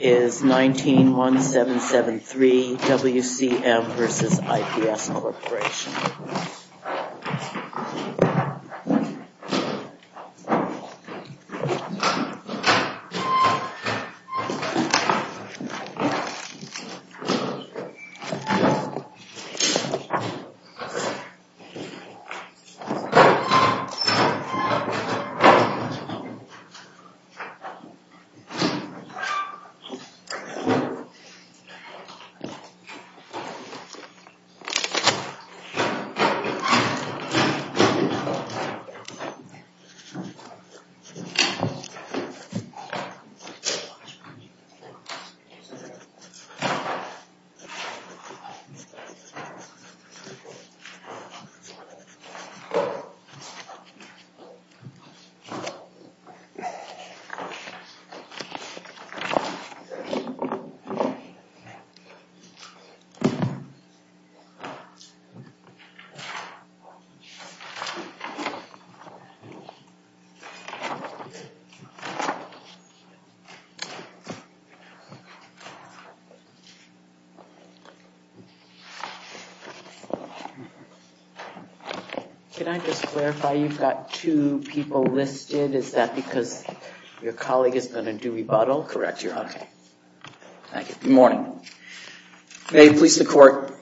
is 19-1773 WCM v. IPS Corporation. Can I just clarify, you've got two people listed. Is that because your colleague is going to do rebuttal? Correct, Your Honor. Thank you. Good morning. May it please the Court,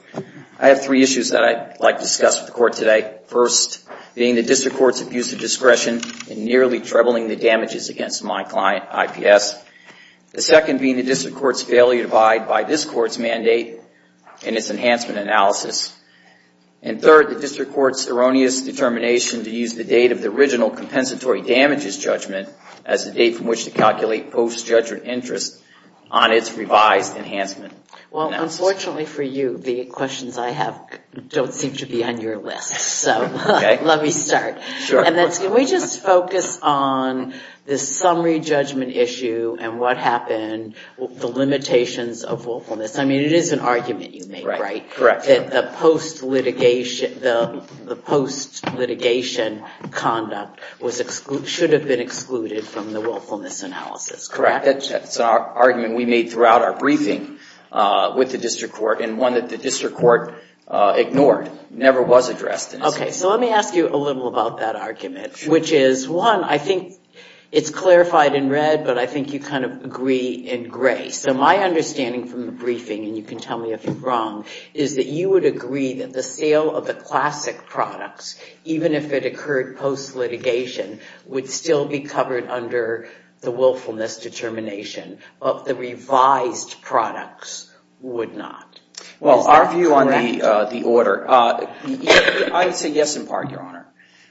I have three issues that I'd like to discuss with the Court today. First, being the district court's abuse of discretion in nearly troubling the damages against my client, IPS. The second being the district court's failure to abide by this court's mandate and its enhancement analysis. And third, the district court's erroneous determination to use the date of the original compensatory damages judgment as the date from which to calculate post-judgment interest on its revised enhancement analysis. Well, unfortunately for you, the questions I have don't seem to be on your list, so let me start. And can we just focus on this summary judgment issue and what happened, the limitations of willfulness? I mean, it is an argument you make, right? Correct. That the post-litigation conduct should have been excluded from the willfulness analysis, correct? That's an argument we made throughout our briefing with the district court, and one that the district court ignored, never was addressed. OK, so let me ask you a little about that argument, which is, one, I think it's clarified in red, but I think you kind of agree in gray. So my understanding from the briefing, and you can tell me if I'm wrong, is that you would agree that the sale of the classic products, even if it occurred post-litigation, would still be covered under the willfulness determination, but the revised products would not. Well, our view on the order, I would say yes in part, Your Honor.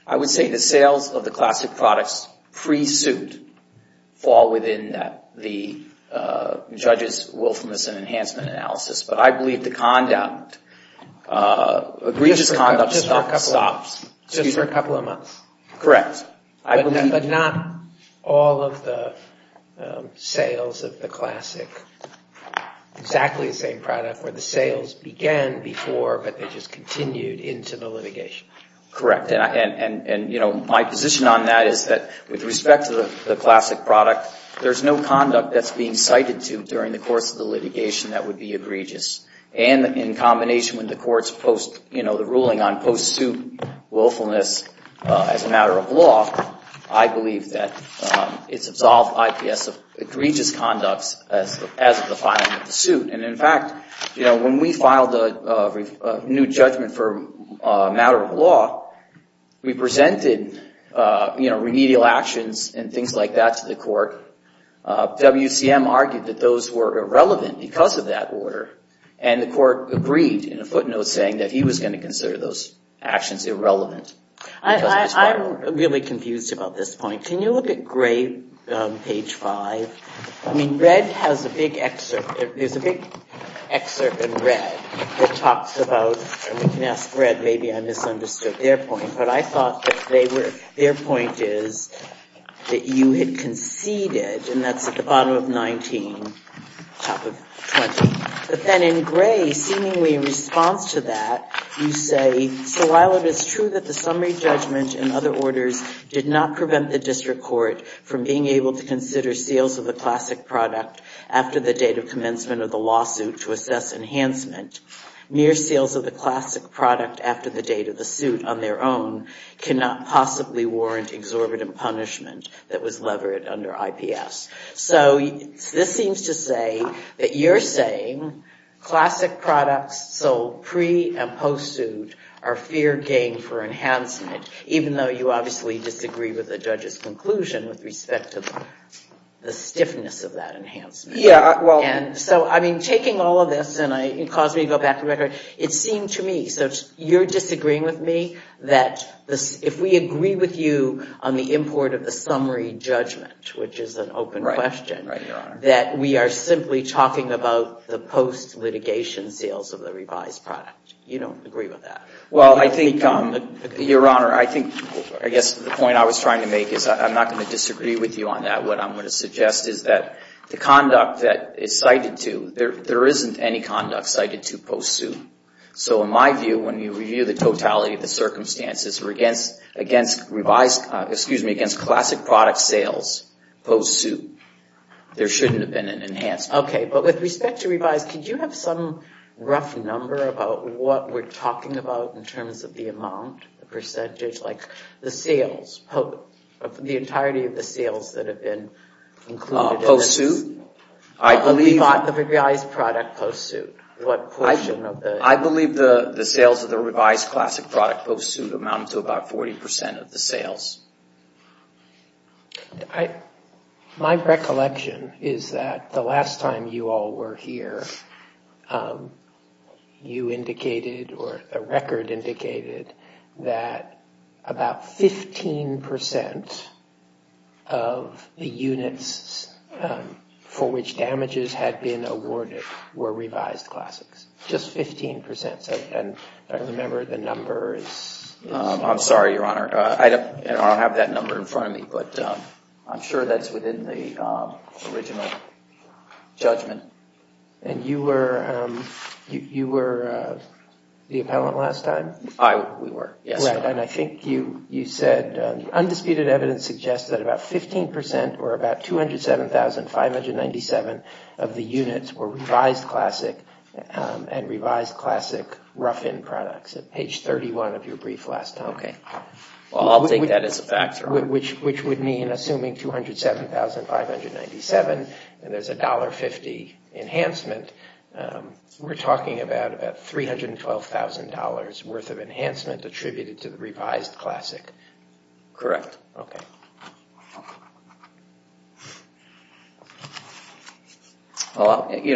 I would say the sales of the classic products pre-suit fall within the judge's willfulness and enhancement analysis. But I believe the conduct, egregious conduct stops. Just for a couple of months. Correct. But not all of the sales of the classic, exactly the same product, where the sales began before, but they just continued into the litigation. Correct, and my position on that is that, with respect to the classic product, there's no conduct that's being cited to during the course of the litigation that would be egregious. And in combination with the court's post, the ruling on post-suit willfulness as a matter of law, I believe that it's absolved IPS of egregious conduct as of the filing of the suit. And in fact, when we filed a new judgment for a matter of law, we presented remedial actions and things like that to the court. WCM argued that those were irrelevant because of that order. And the court agreed in a footnote saying that he was going to consider those actions irrelevant. I'm really confused about this point. Can you look at gray on page 5? I mean, red has a big excerpt. There's a big excerpt in red that talks about, and we can ask red, maybe I misunderstood their point. But I thought that their point is that you had conceded, and that's at the bottom of 19, top of 20. But then in gray, seemingly in response to that, you say, so while it is true that the summary judgment and other orders did not prevent the district court from being able to consider sales of the classic product after the date of commencement of the lawsuit to assess enhancement, mere sales of the classic product after the date of the suit on their own cannot possibly warrant exorbitant punishment that was levered under IPS. So this seems to say that you're saying classic products sold pre- and post-suit are fair game for enhancement, even though you obviously disagree with the judge's conclusion with respect to the stiffness of that enhancement. So I mean, taking all of this, and it caused me to go back to record, it seemed to me, so you're disagreeing with me, that if we agree with you on the import of the summary judgment, which is an open question, that we are simply talking about the post-litigation sales of the revised product. You don't agree with that. Well, I think, Your Honor, I think, I guess, the point I was trying to make is I'm not going to disagree with you on that. What I'm going to suggest is that the conduct that is cited to, there isn't any conduct cited to post-suit. So in my view, when you review the totality of the circumstances against revised, excuse me, against classic product sales post-suit, there shouldn't have been an enhancement. OK, but with respect to revised, could you have some rough number about what we're talking about in terms of the amount, the percentage, like the sales, the entirety of the sales that have been included in this? Post-suit? I believe that the revised product post-suit, what portion of the? I believe the sales of the revised classic product post-suit amount to about 40% of the sales. My recollection is that the last time you all were here, you indicated, or a record indicated, that about 15% of the units for which damages had been awarded were revised classics, just 15%. And if I remember, the number is? I'm sorry, Your Honor, I don't have that number in front of me, but I'm sure that's within the original judgment. And you were the appellant last time? We were, yes. And I think you said, undisputed evidence suggests that about 15% or about 207,597 of the units were revised classic and revised classic rough-in products at page 31 of your brief last time. Well, I'll take that as a factor. Which would mean, assuming 207,597, and there's $1.50 enhancement, we're talking about $312,000 worth of enhancement attributed to the revised classic. Correct. OK. Thank you.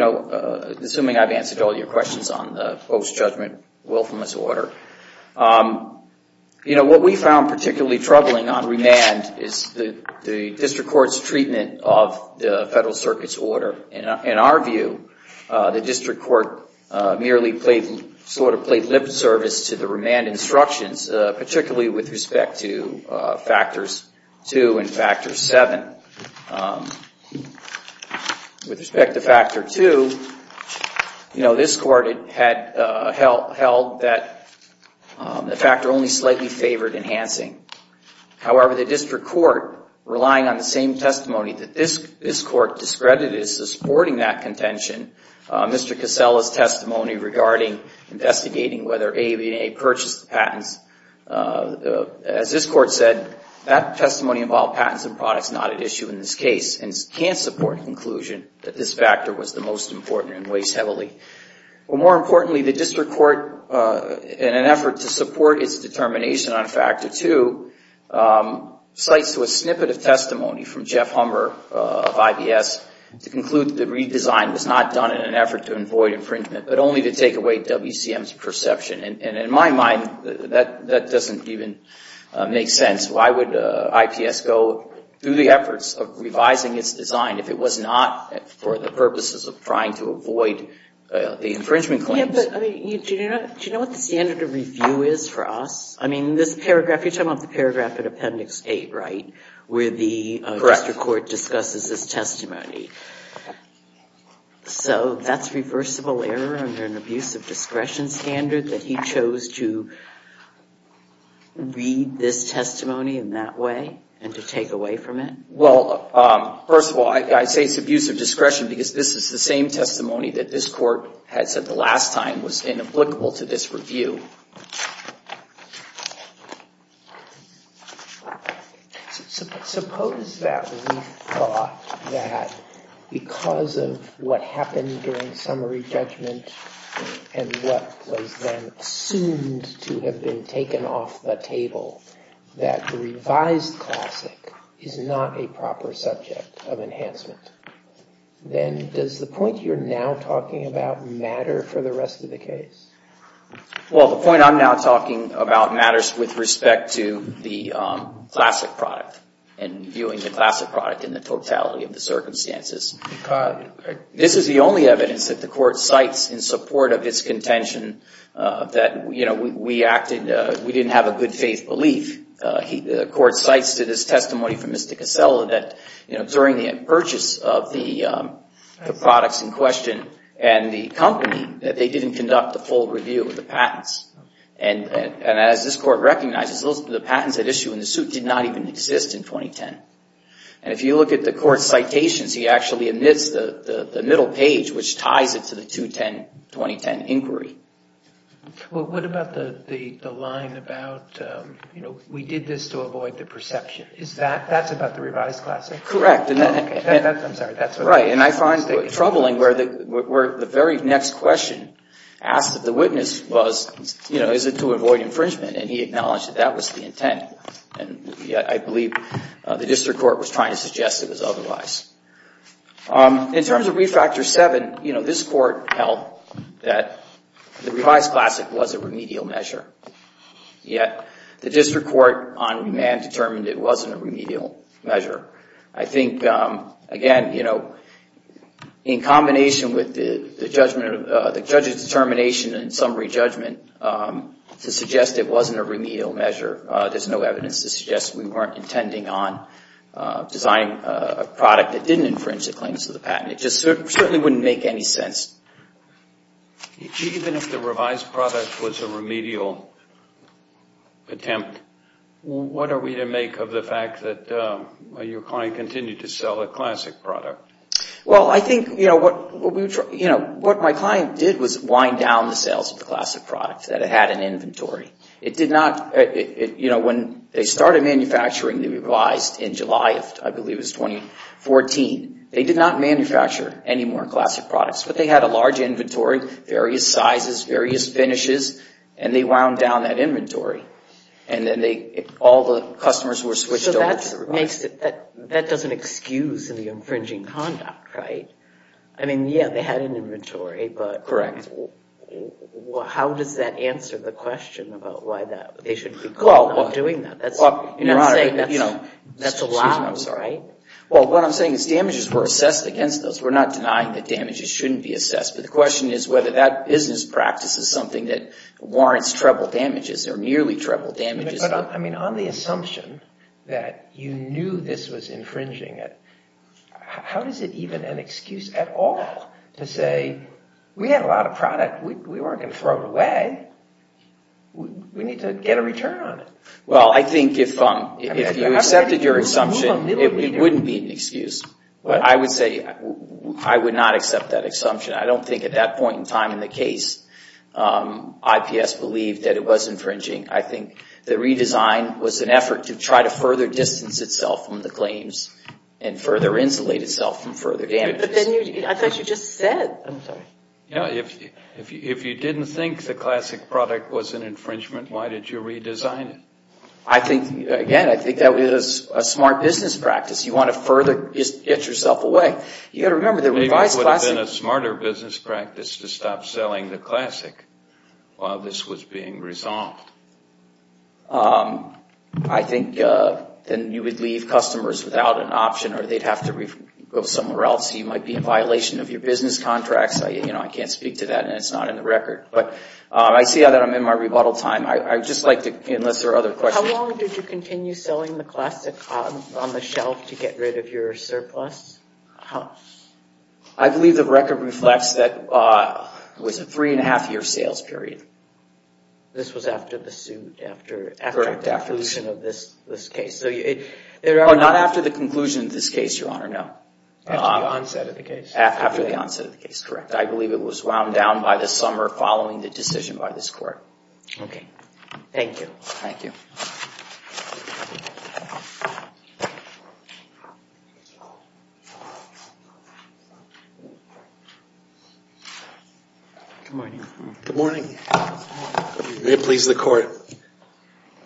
Assuming I've answered all your questions on the post-judgment willfulness order, what we found particularly troubling on remand is the district court's treatment of the Federal Circuit's order. In our view, the district court merely sort of played lip service to the remand instructions, particularly with respect to factors two and factor seven. With respect to factor two, this court had held that the factor only slightly favored enhancing. However, the district court, relying on the same testimony that this court discredited as supporting that contention, Mr. Casella's testimony regarding investigating whether AAB&A purchased the patents, as this court said, that testimony involved patents and products not at issue in this case, and can't support the conclusion that this factor was the most important and weighs heavily. Well, more importantly, the district court, in an effort to support its determination on factor two, cites to a snippet of testimony from Jeff Humber of IBS to conclude that the redesign was not done in an effort to avoid infringement, but only to take away WCM's perception. And in my mind, that doesn't even make sense. Why would IPS go through the efforts of revising its design if it was not for the purposes of trying to avoid the infringement claims? Do you know what the standard of review is for us? I mean, this paragraph, you're talking about the paragraph in Appendix 8, right, where the district court discusses this testimony. So that's reversible error under an abuse of discretion standard, that he chose to read this testimony in that way and to take away from it? Well, first of all, I say it's abuse of discretion because this is the same testimony that this court had said the last time was inapplicable to this review. So suppose that we thought that because of what happened during summary judgment and what was then assumed to have been taken off the table, that the revised classic is not a proper subject of enhancement. Then does the point you're now talking about Well, the point is that the revised classic Well, the point I'm now talking about matters with respect to the classic product and viewing the classic product in the totality of the circumstances. This is the only evidence that the court cites in support of its contention that we acted, we didn't have a good faith belief. The court cites to this testimony from Mr. Casella that during the purchase of the products in question and the company, that they didn't conduct the full review of the patents. And as this court recognizes, the patents that issue in the suit did not even exist in 2010. And if you look at the court's citations, he actually omits the middle page, which ties it to the 2010 inquiry. Well, what about the line about we did this to avoid the perception? Is that, that's about the revised classic? Correct, and I find it troubling where the very next question asked that the witness was, is it to avoid infringement? And he acknowledged that that was the intent. And yet, I believe the district court was trying to suggest it was otherwise. In terms of refactor seven, this court held that the revised classic was a remedial measure. Yet, the district court on demand determined it wasn't a remedial measure. I think, again, in combination with the judge's determination and summary judgment to suggest it wasn't a remedial measure, there's no evidence to suggest we weren't intending on designing a product that didn't infringe the claims of the patent. It just certainly wouldn't make any sense. Even if the revised product was a remedial attempt, what are we to make of the fact that your client continued to sell a classic product? Well, I think what my client did was wind down the sales of the classic product, that it had an inventory. It did not, you know, when they started manufacturing the revised in July of, I believe, it was 2014, they did not manufacture any more classic products. But they had a large inventory, various sizes, various finishes, and they wound down that inventory. And then all the customers were switched over to the revised. So that doesn't excuse the infringing conduct, right? I mean, yeah, they had an inventory, but how does that answer the question about why they shouldn't be doing that? Well, Your Honor, you know, that's a lot, right? Well, what I'm saying is damages were assessed against us. We're not denying that damages shouldn't be assessed. But the question is whether that business practice is something that warrants treble damages or nearly treble damages. But I mean, on the assumption that you knew this was infringing it, how is it even an excuse at all to say, we had a lot of product, we weren't going to throw it away. We need to get a return on it. Well, I think if you accepted your assumption, it wouldn't be an excuse. But I would say I would not accept that assumption. I don't think at that point in time in the case, IPS believed that it was infringing. I think the redesign was an effort to try to further distance itself from the claims and further insulate itself from further damages. But then I thought you just said, I'm sorry. No, if you didn't think the Classic product was an infringement, why did you redesign it? I think, again, I think that was a smart business practice. You want to further get yourself away. You got to remember the revised Classic. Maybe it would have been a smarter business practice to stop selling the Classic while this was being resolved. I think then you would leave customers without an option or they'd have to go somewhere else. You might be in violation of your business contracts. I can't speak to that and it's not in the record. But I see that I'm in my rebuttal time. I just like to, unless there are other questions. How long did you continue selling the Classic on the shelf to get rid of your surplus? I believe the record reflects that it was a three and a half year sales period. This was after the suit, after the conclusion of this case. Not after the conclusion of this case, Your Honor, no. After the onset of the case. After the onset of the case, correct. I believe it was wound down by the summer following the decision by this court. OK. Thank you. Thank you. Good morning. Good morning. May it please the court.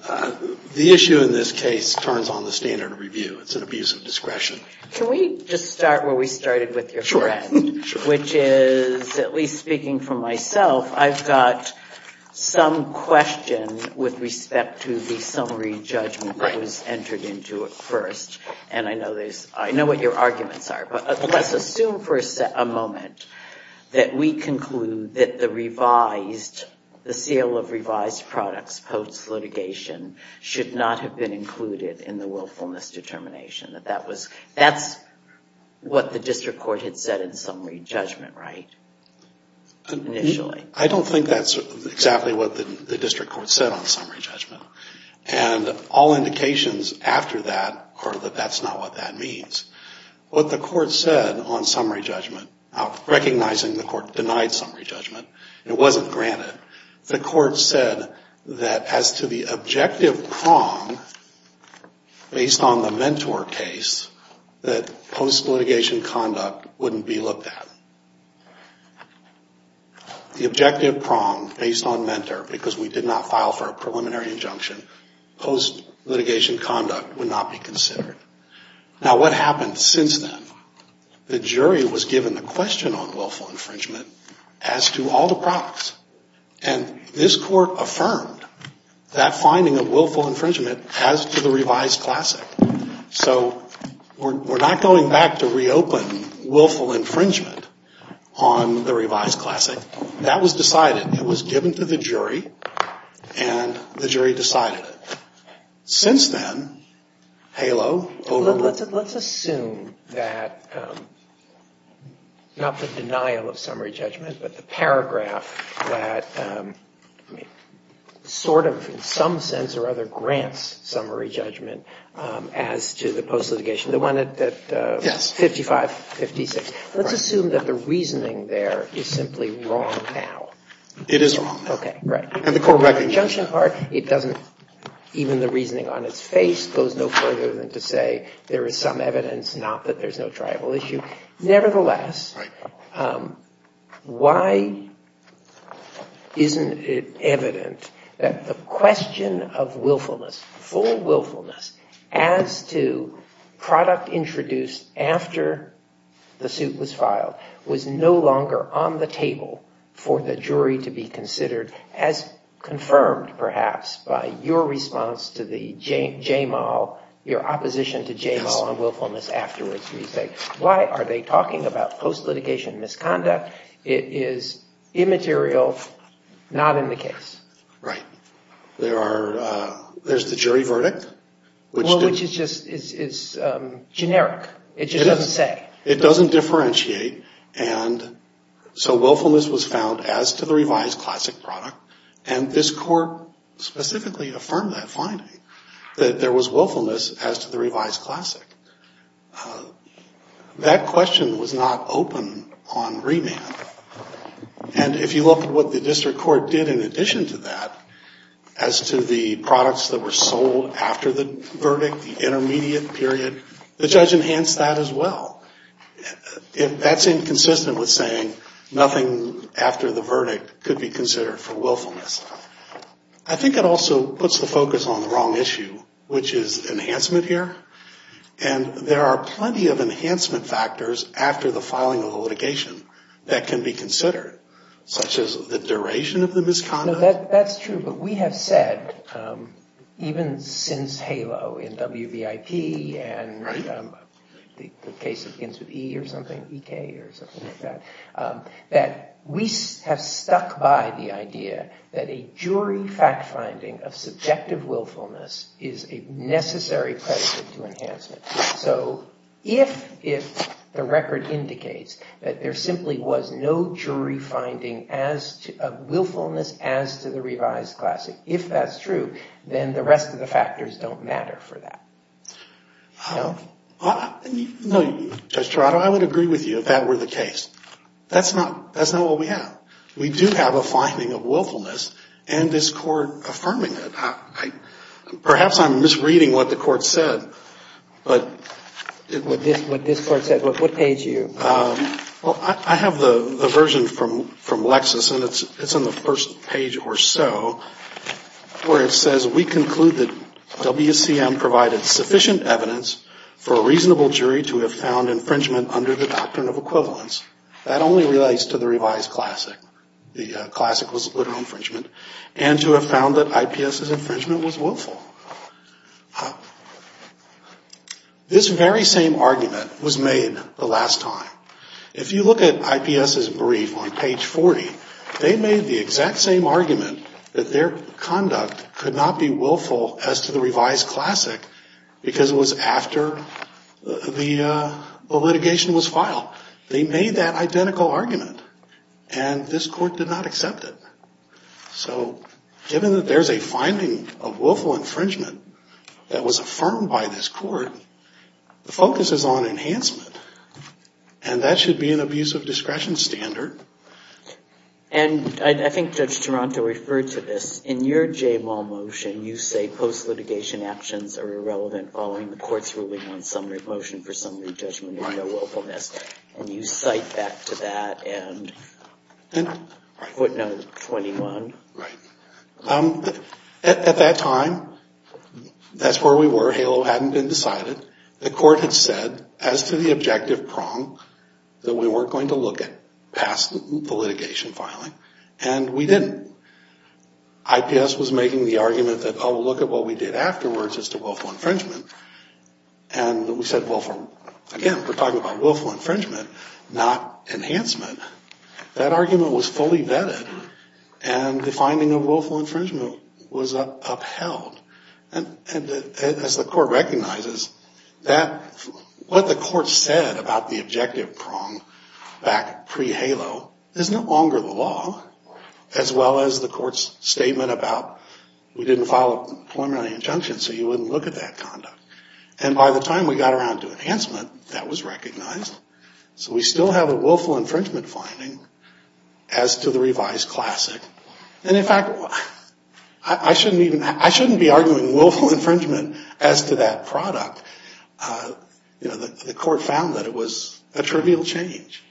The issue in this case turns on the standard of review. It's an abuse of discretion. Can we just start where we started with your friend? Sure. Which is, at least speaking for myself, I've got some question with respect to the summary judgment that was entered into it first. And I know what your argument is. Let's assume for a moment that we conclude that the sale of revised products post litigation should not have been included in the willfulness determination. That's what the district court had said in summary judgment, right? Initially. I don't think that's exactly what the district court said on summary judgment. And all indications after that are that that's not what that means. What the court said on summary judgment, recognizing the court denied summary judgment, it wasn't granted, the court said that as to the objective prong based on the mentor case, that post litigation conduct wouldn't be looked at. The objective prong based on mentor, because we did not file for a preliminary injunction, post litigation conduct would not be considered. Now what happened since then? The jury was given the question on willful infringement as to all the products. And this court affirmed that finding of willful infringement as to the revised classic. So we're not going back to reopen willful infringement on the revised classic. That was decided. It was given to the jury, and the jury decided it. Since then, HALO overruled. Let's assume that, not the denial of summary judgment, but the paragraph that sort of, in some sense or other, grants summary judgment as to the post litigation, the one at 55, 56. Let's assume that the reasoning there is simply wrong now. It is wrong now. OK, right. And the court recognizes that. It doesn't, even the reasoning on its face, goes no further than to say there is some evidence, not that there's no tribal issue. Nevertheless, why isn't it evident that the question of willfulness, full willfulness, as to product introduced after the suit was filed, was no longer on the table for the jury to be considered, as confirmed, perhaps, by your response to the J-Mal, your opposition to J-Mal on willfulness afterwards, where you say, why are they talking about post litigation misconduct? It is immaterial, not in the case. Right. There's the jury verdict, which is just generic. It just doesn't say. It doesn't differentiate. And so willfulness was found as to the revised classic product. And this court specifically affirmed that finding, that there was willfulness as to the revised classic. That question was not open on remand. And if you look at what the district court did in addition to that, as to the products that were sold after the verdict, the intermediate period, the judge enhanced that as well. If that's inconsistent with saying nothing after the verdict could be considered for willfulness, I think it also puts the focus on the wrong issue, which is enhancement here. And there are plenty of enhancement factors after the filing of the litigation that can be considered, such as the duration of the misconduct. That's true. But we have said, even since HALO, and WVIP, and the case that begins with E or something, EK, or something like that, that we have stuck by the idea that a jury fact finding of subjective willfulness is a necessary predicate to enhancement. So if the record indicates that there simply was no jury finding of willfulness as to the revised classic, if that's true, then the rest of the factors don't matter for that. No, Judge Toronto, I would agree with you if that were the case. That's not what we have. We do have a finding of willfulness, and this Court affirming it. Perhaps I'm misreading what the Court said, but it would be. What this Court said. What page are you? Well, I have the version from Lexis, and it's on the first page or so, where it says, we conclude that WCM provided sufficient evidence for a reasonable jury to have found infringement under the doctrine of equivalence. That only relates to the revised classic. The classic was literal infringement. And to have found that IPS's infringement was willful. This very same argument was made the last time. If you look at IPS's brief on page 40, they made the exact same argument that their conduct could not be willful as to the revised classic, because it was after the litigation was filed. They made that identical argument, and this Court did not accept it. So given that there is a finding of willful infringement that was affirmed by this Court, the focus is on enhancement. And that should be an abuse of discretion standard. And I think Judge Toronto referred to this. In your J-Mall motion, you say post-litigation actions are irrelevant following the Court's ruling on summary motion for summary judgment of no willfulness. And you cite back to that and footnote 21. At that time, that's where we were. HALO hadn't been decided. The Court had said as to the objective prong that we weren't going to look at past the litigation filing, and we didn't. IPS was making the argument that, oh, look at what we did afterwards as to willful infringement. And we said, well, again, we're talking about willful infringement, not enhancement. That argument was fully vetted, and the finding of willful infringement was upheld. And as the Court recognizes, what the Court said about the objective prong back pre-HALO is no longer the law, as well as the Court's statement about we didn't file a preliminary injunction, so you wouldn't look at that conduct. And by the time we got around to enhancement, that was recognized. So we still have a willful infringement finding as to the revised classic. And in fact, I shouldn't be arguing willful infringement as to that product. The Court found that it was a trivial change.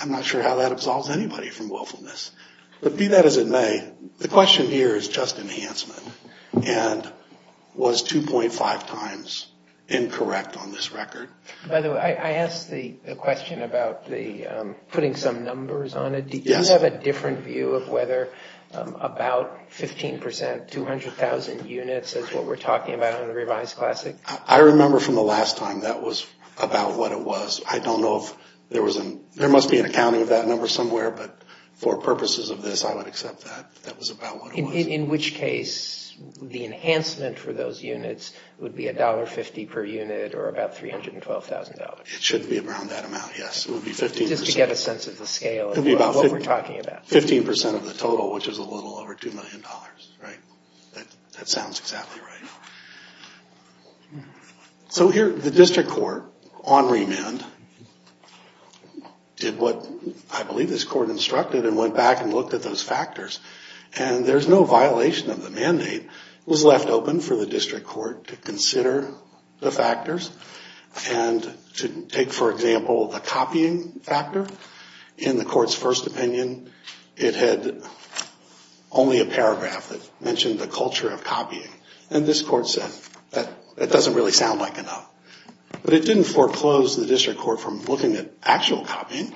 I'm not sure how that absolves anybody from willfulness. But be that as it may, the question here is just enhancement. And was 2.5 times incorrect on this record? By the way, I asked the question about putting some numbers on it. Do you have a different view of whether about 15%, 200,000 units is what we're talking about on the revised classic? I remember from the last time that was about what it was. I don't know if there was an, there must be an accounting of that number somewhere. But for purposes of this, I would accept that. That was about what it was. In which case, the enhancement for those units would be $1.50 per unit, or about $312,000. It should be around that amount, yes. It would be 15%. Just to get a sense of the scale. What we're talking about. 15% of the total, which is a little over $2 million, right? That sounds exactly right. So here, the district court, on remand, did what I believe this court instructed, and went back and looked at those factors. And there's no violation of the mandate. It was left open for the district court to consider the factors. And to take, for example, the copying factor in the court's first opinion, it had only a paragraph that mentioned the culture of copying. And this court said, that doesn't really sound like enough. But it didn't foreclose the district court from looking at actual copying.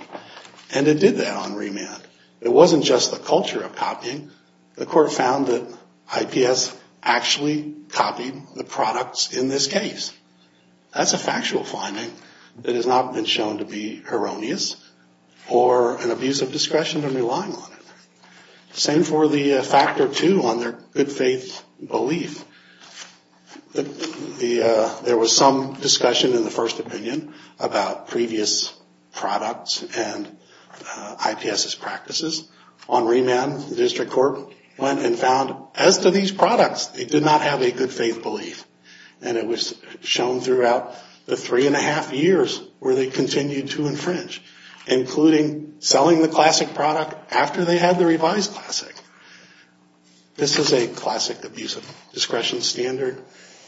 And it did that on remand. It wasn't just the culture of copying. The court found that IPS actually copied the products in this case. That's a factual finding that has not been shown to be erroneous, or an abuse of discretion in relying on it. Same for the factor two on their good faith belief. There was some discussion in the first opinion about previous products and IPS's practices. On remand, the district court went and found, as to these products, they did not have a good faith belief. And it was shown throughout the three and a half years where they continued to infringe, including selling the classic product after they had the revised classic. This is a classic abuse of discretion standard.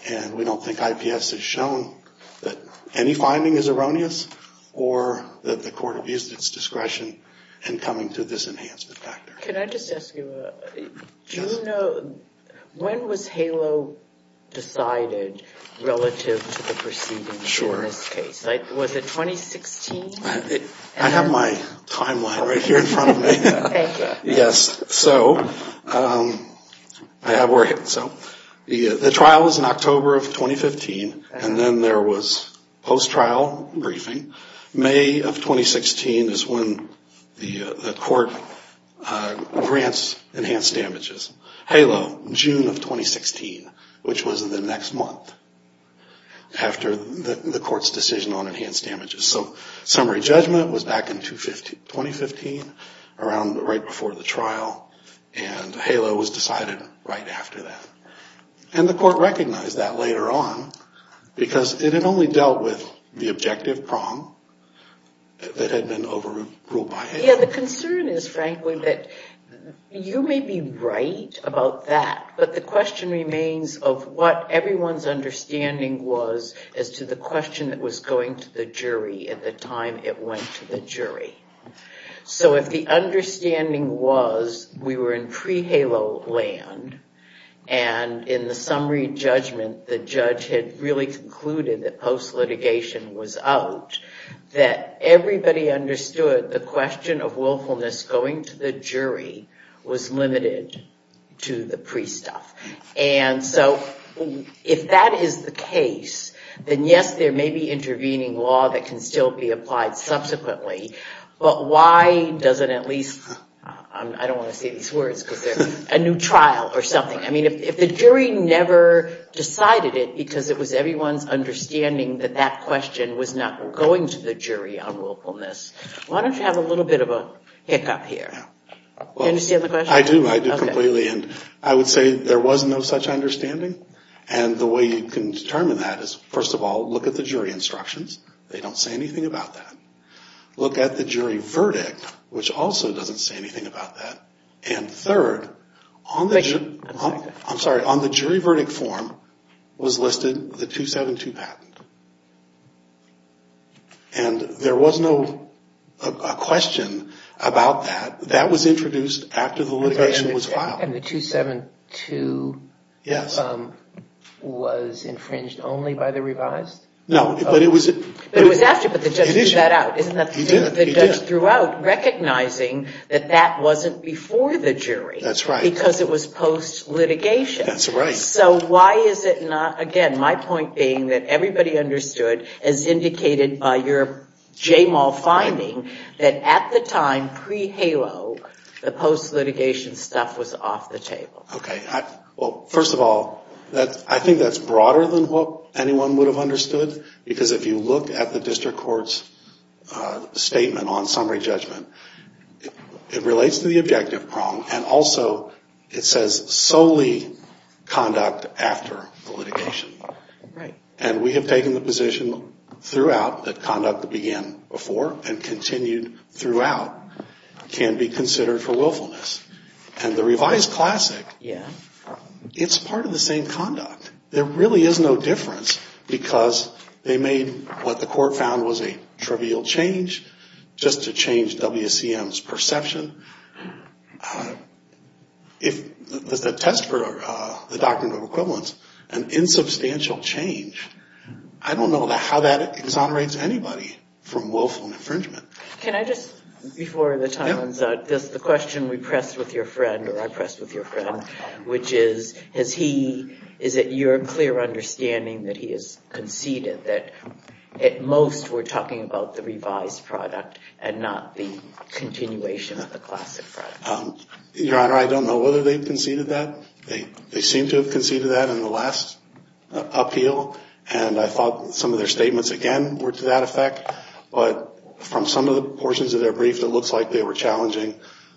And we don't think IPS has shown that any finding is erroneous or that the court abused its discretion in coming to this enhancement factor. Can I just ask you, do you know, when was HALO decided relative to the proceedings in this case? Was it 2016? I have my timeline right here in front of me. Yes. So the trial was in October of 2015. And then there was post-trial briefing. May of 2016 is when the court grants enhanced damages. HALO, June of 2016, which was the next month after the court's decision on enhanced damages. So summary judgment was back in 2015, around right before the trial. And HALO was decided right after that. And the court recognized that later on because it had only dealt with the objective prong that had been overruled by HALO. Yeah, the concern is, frankly, that you may be right about that. But the question remains of what everyone's understanding was as to the question that was going to the jury at the time it went to the jury. So if the understanding was we were in pre-HALO land, and in the summary judgment, the judge had really concluded that post-litigation was out, that everybody understood the question of willfulness going to the jury was limited to the pre-stuff. And so if that is the case, then yes, there may be intervening law that can still be applied subsequently. But why doesn't at least, I don't want to say these words because they're a new trial or something. I mean, if the jury never decided it because it was everyone's understanding that that question was not going to the jury on willfulness, why don't you have a little bit of a hiccup here? Do you understand the question? I do. I do completely. And I would say there was no such understanding. And the way you can determine that is, first of all, look at the jury instructions. They don't say anything about that. Look at the jury verdict, which also doesn't say anything about that. And third, on the jury verdict form was listed the 272 patent. And there was no question about that. That was introduced after the litigation was filed. And the 272 was infringed only by the revised? No, but it was after. But the judge threw that out, isn't that the judge threw out, recognizing that that wasn't before the jury because it was post-litigation. So why is it not? Again, my point being that everybody understood, as indicated by your JMAL finding, that at the time, pre-HALO, the post-litigation stuff was off the table. OK, well, first of all, I think that's broader than what anyone would have understood. Because if you look at the district court's statement on summary judgment, it relates to the objective prong. And also, it says solely conduct after the litigation. And we have taken the position throughout that conduct that began before and continued throughout can be considered for willfulness. And the revised classic, it's part of the same conduct. There really is no difference because they made what the court found was a trivial change, just to change WCM's perception. If the test for the doctrine of equivalence, an insubstantial change, I don't know how that exonerates anybody from willful infringement. Can I just, before the time runs out, the question we pressed with your friend, or I pressed with your friend, which is, is it your clear understanding that he has conceded that at most we're talking about the revised product and not the continuation of the classic product? Your Honor, I don't know whether they've conceded that. They seem to have conceded that in the last appeal. And I thought some of their statements, again, were to that effect. But from some of the portions of their brief, it looks like they were challenging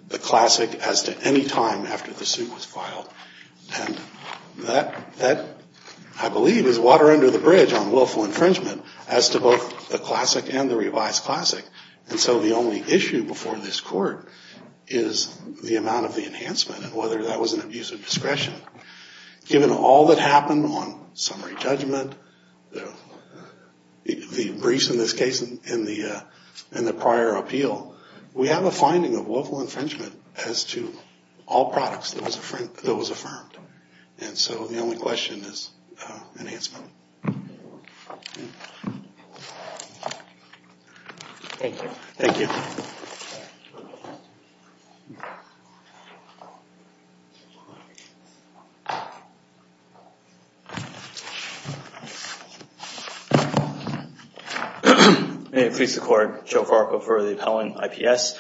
the classic as to any time after the suit was filed. And that, I believe, is water under the bridge on willful infringement as to both the classic and the revised classic. And so the only issue before this court is the amount of the enhancement and whether that was an abuse of discretion. Given all that happened on summary judgment, the briefs in this case and the prior appeal, we have a finding of willful infringement as to all products that was affirmed. And so the only question is enhancement. Thank you. Thank you. May it please the Court. Joe Farquhar for the appellant IPS.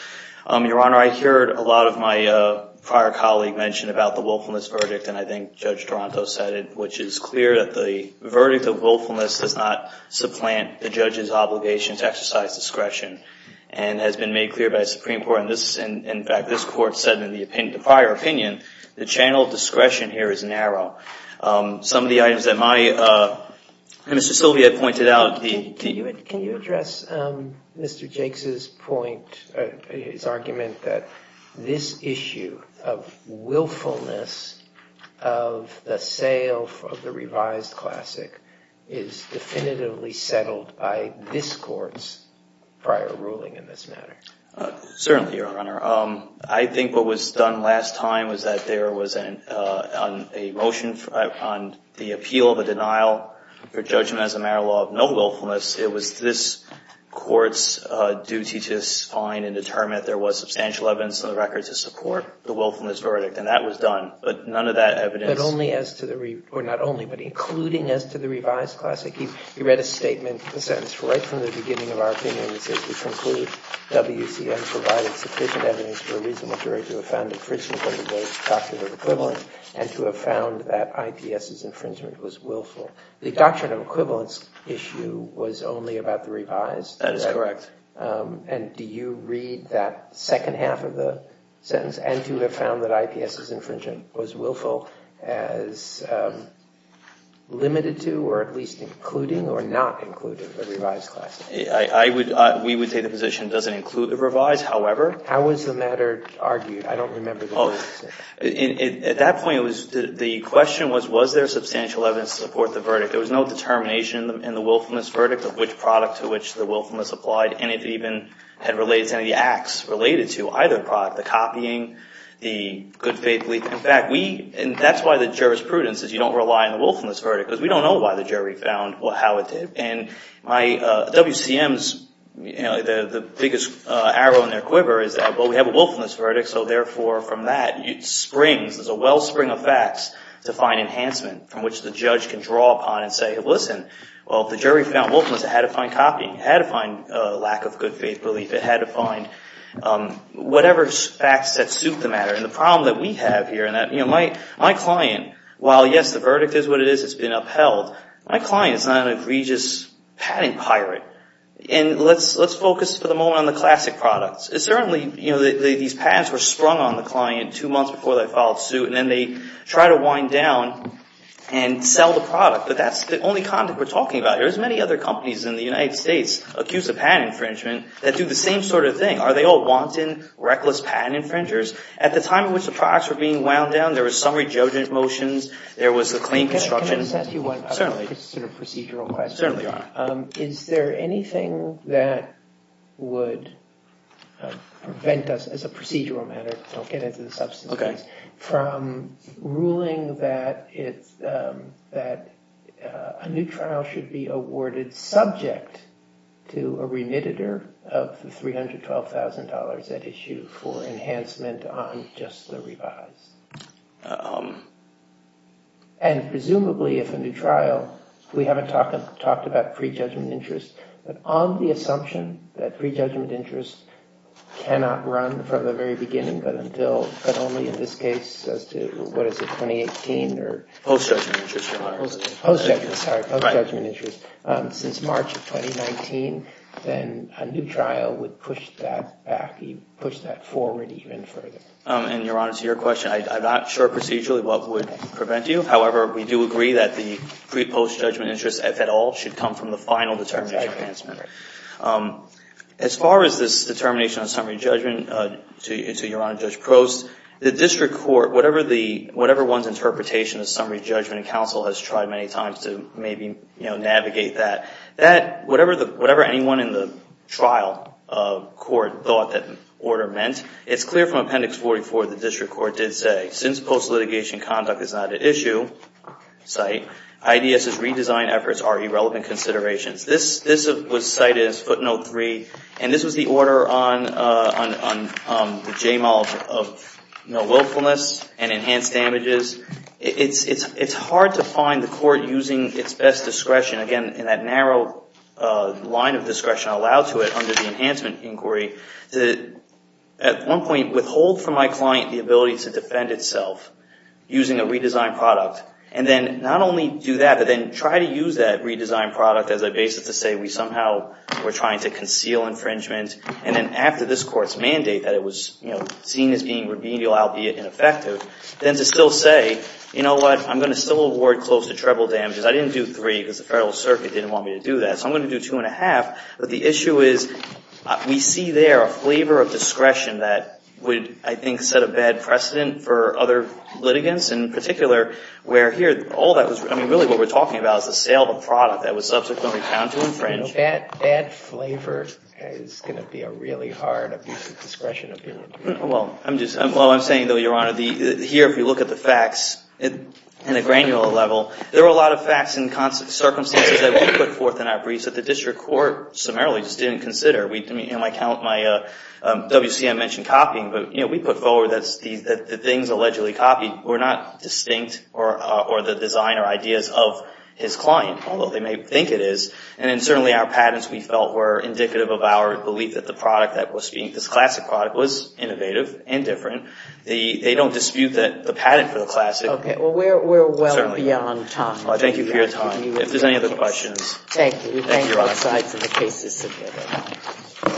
Your Honor, I heard a lot of my prior colleague mention about the willfulness verdict. And I think Judge Toronto said it, which is clear that the verdict of willfulness does not supplant the judge's obligation to exercise discretion. And it has been made clear by the Supreme Court. And in fact, this court said in the prior opinion, the channel of discretion here is narrow. Some of the items that my client has raised Mr. Sylvia pointed out the Can you address Mr. Jakes's point, his argument that this issue of willfulness of the sale of the revised classic is definitively settled by this court's prior ruling in this matter? Certainly, Your Honor. I think what was done last time was that there was a motion on the appeal of a denial for judgment as a matter of law of no willfulness. It was this court's duty to find and determine if there was substantial evidence on the record to support the willfulness verdict. And that was done. But none of that evidence. But only as to the re, or not only, but including as to the revised classic. He read a statement, a sentence, right from the beginning of our opinion that says, we conclude WCM provided sufficient evidence for a reasonable jury to have found infringement under both doctrines of equivalence and to have found that IPS's infringement was willful. The doctrine of equivalence issue was only about the revised. That is correct. And do you read that second half of the sentence and to have found that IPS's infringement was willful as limited to, or at least including, or not including the revised classic? We would say the position doesn't include the revised, however. How was the matter argued? I don't remember the words. At that point, the question was, was there substantial evidence to support the verdict? There was no determination in the willfulness verdict of which product to which the willfulness applied. And it even had related to any acts related to either product. The copying, the good faith belief. In fact, we, and that's why the jurisprudence is you don't rely on the willfulness verdict. Because we don't know why the jury found how it did. And my WCM's, the biggest arrow in their quiver is that, well, we have a willfulness verdict. So therefore, from that, it springs, there's a wellspring of facts to find enhancement from which the judge can draw upon and say, well, listen. Well, if the jury found willfulness, it had to find copying. It had to find a lack of good faith belief. It had to find whatever facts that suit the matter. And the problem that we have here in that, my client, while yes, the verdict is what it is, it's been upheld. My client is not an egregious patent pirate. And let's focus for the moment on the classic products. Certainly, these patents were sprung on the client two months before they filed suit. And then they try to wind down and sell the product. But that's the only content we're talking about. There's many other companies in the United States accused of patent infringement that do the same sort of thing. Are they all wanton, reckless patent infringers? At the time in which the products were being wound down, there was summary judgement motions. There was the claim construction. Certainly. It's sort of a procedural question. Is there anything that would prevent us, as a procedural matter, don't get into the substance of this, from ruling that a new trial should be awarded subject to a remittitor of the $312,000 at issue for enhancement on just the revised? And presumably, if a new trial, we haven't talked about prejudgment interest. But on the assumption that prejudgment interest cannot run from the very beginning, but only in this case, as to what is it, 2018 or? Post-judgment interest, Your Honor. Post-judgment. Sorry. Post-judgment interest. Since March of 2019, then a new trial would push that back, push that forward even further. And Your Honor, to your question, I am not sure procedurally what would prevent you. However, we do agree that the pre-post-judgment interest, if at all, should come from the final determination enhancement. As far as this determination on summary judgment, to Your Honor, Judge Prost, the district court, whatever one's interpretation of summary judgment in counsel has tried many times to maybe navigate that, whatever anyone in the trial court thought that order meant, it's clear from Appendix 44 the district court did say, since post-litigation conduct is not an issue, cite, IDS's redesign efforts are irrelevant considerations. This was cited as footnote three. And this was the order on the J-mole of no willfulness and enhanced damages. It's hard to find the court using its best discretion, again, in that narrow line of discretion allowed to it under the enhancement inquiry, to at one point withhold from my client the ability to defend itself using a redesigned product. And then not only do that, but then try to use that redesigned product as a basis to say, we somehow were trying to conceal infringement. And then after this court's mandate that it was seen as being remedial, albeit ineffective, then to still say, you know what, I'm going to still award close to treble damages. I didn't do three because the federal circuit didn't want me to do that. So I'm going to do two and a half. But the issue is, we see there a flavor of discretion that would, I think, set a bad precedent for other litigants. In particular, where here, all that was really what we're talking about is the sale of a product that was subsequently found to infringe. That flavor is going to be a really hard abuse of discretion appeal. Well, I'm saying, though, Your Honor, here if you look at the facts in a granular level, there are a lot of facts and circumstances that we put forth in our briefs that the district court summarily just didn't consider. My WCM mentioned copying, but we put forward that the things allegedly copied were not distinct or the design or ideas of his client, although they may think it is. And certainly, our patents, we felt, were indicative of our belief that the product that was being, this classic product, was innovative and different. They don't dispute that the patent for the classic. OK, well, we're well beyond time. If there's any other questions. Thank you. Thank you, Your Honor. All right, so the case is submitted.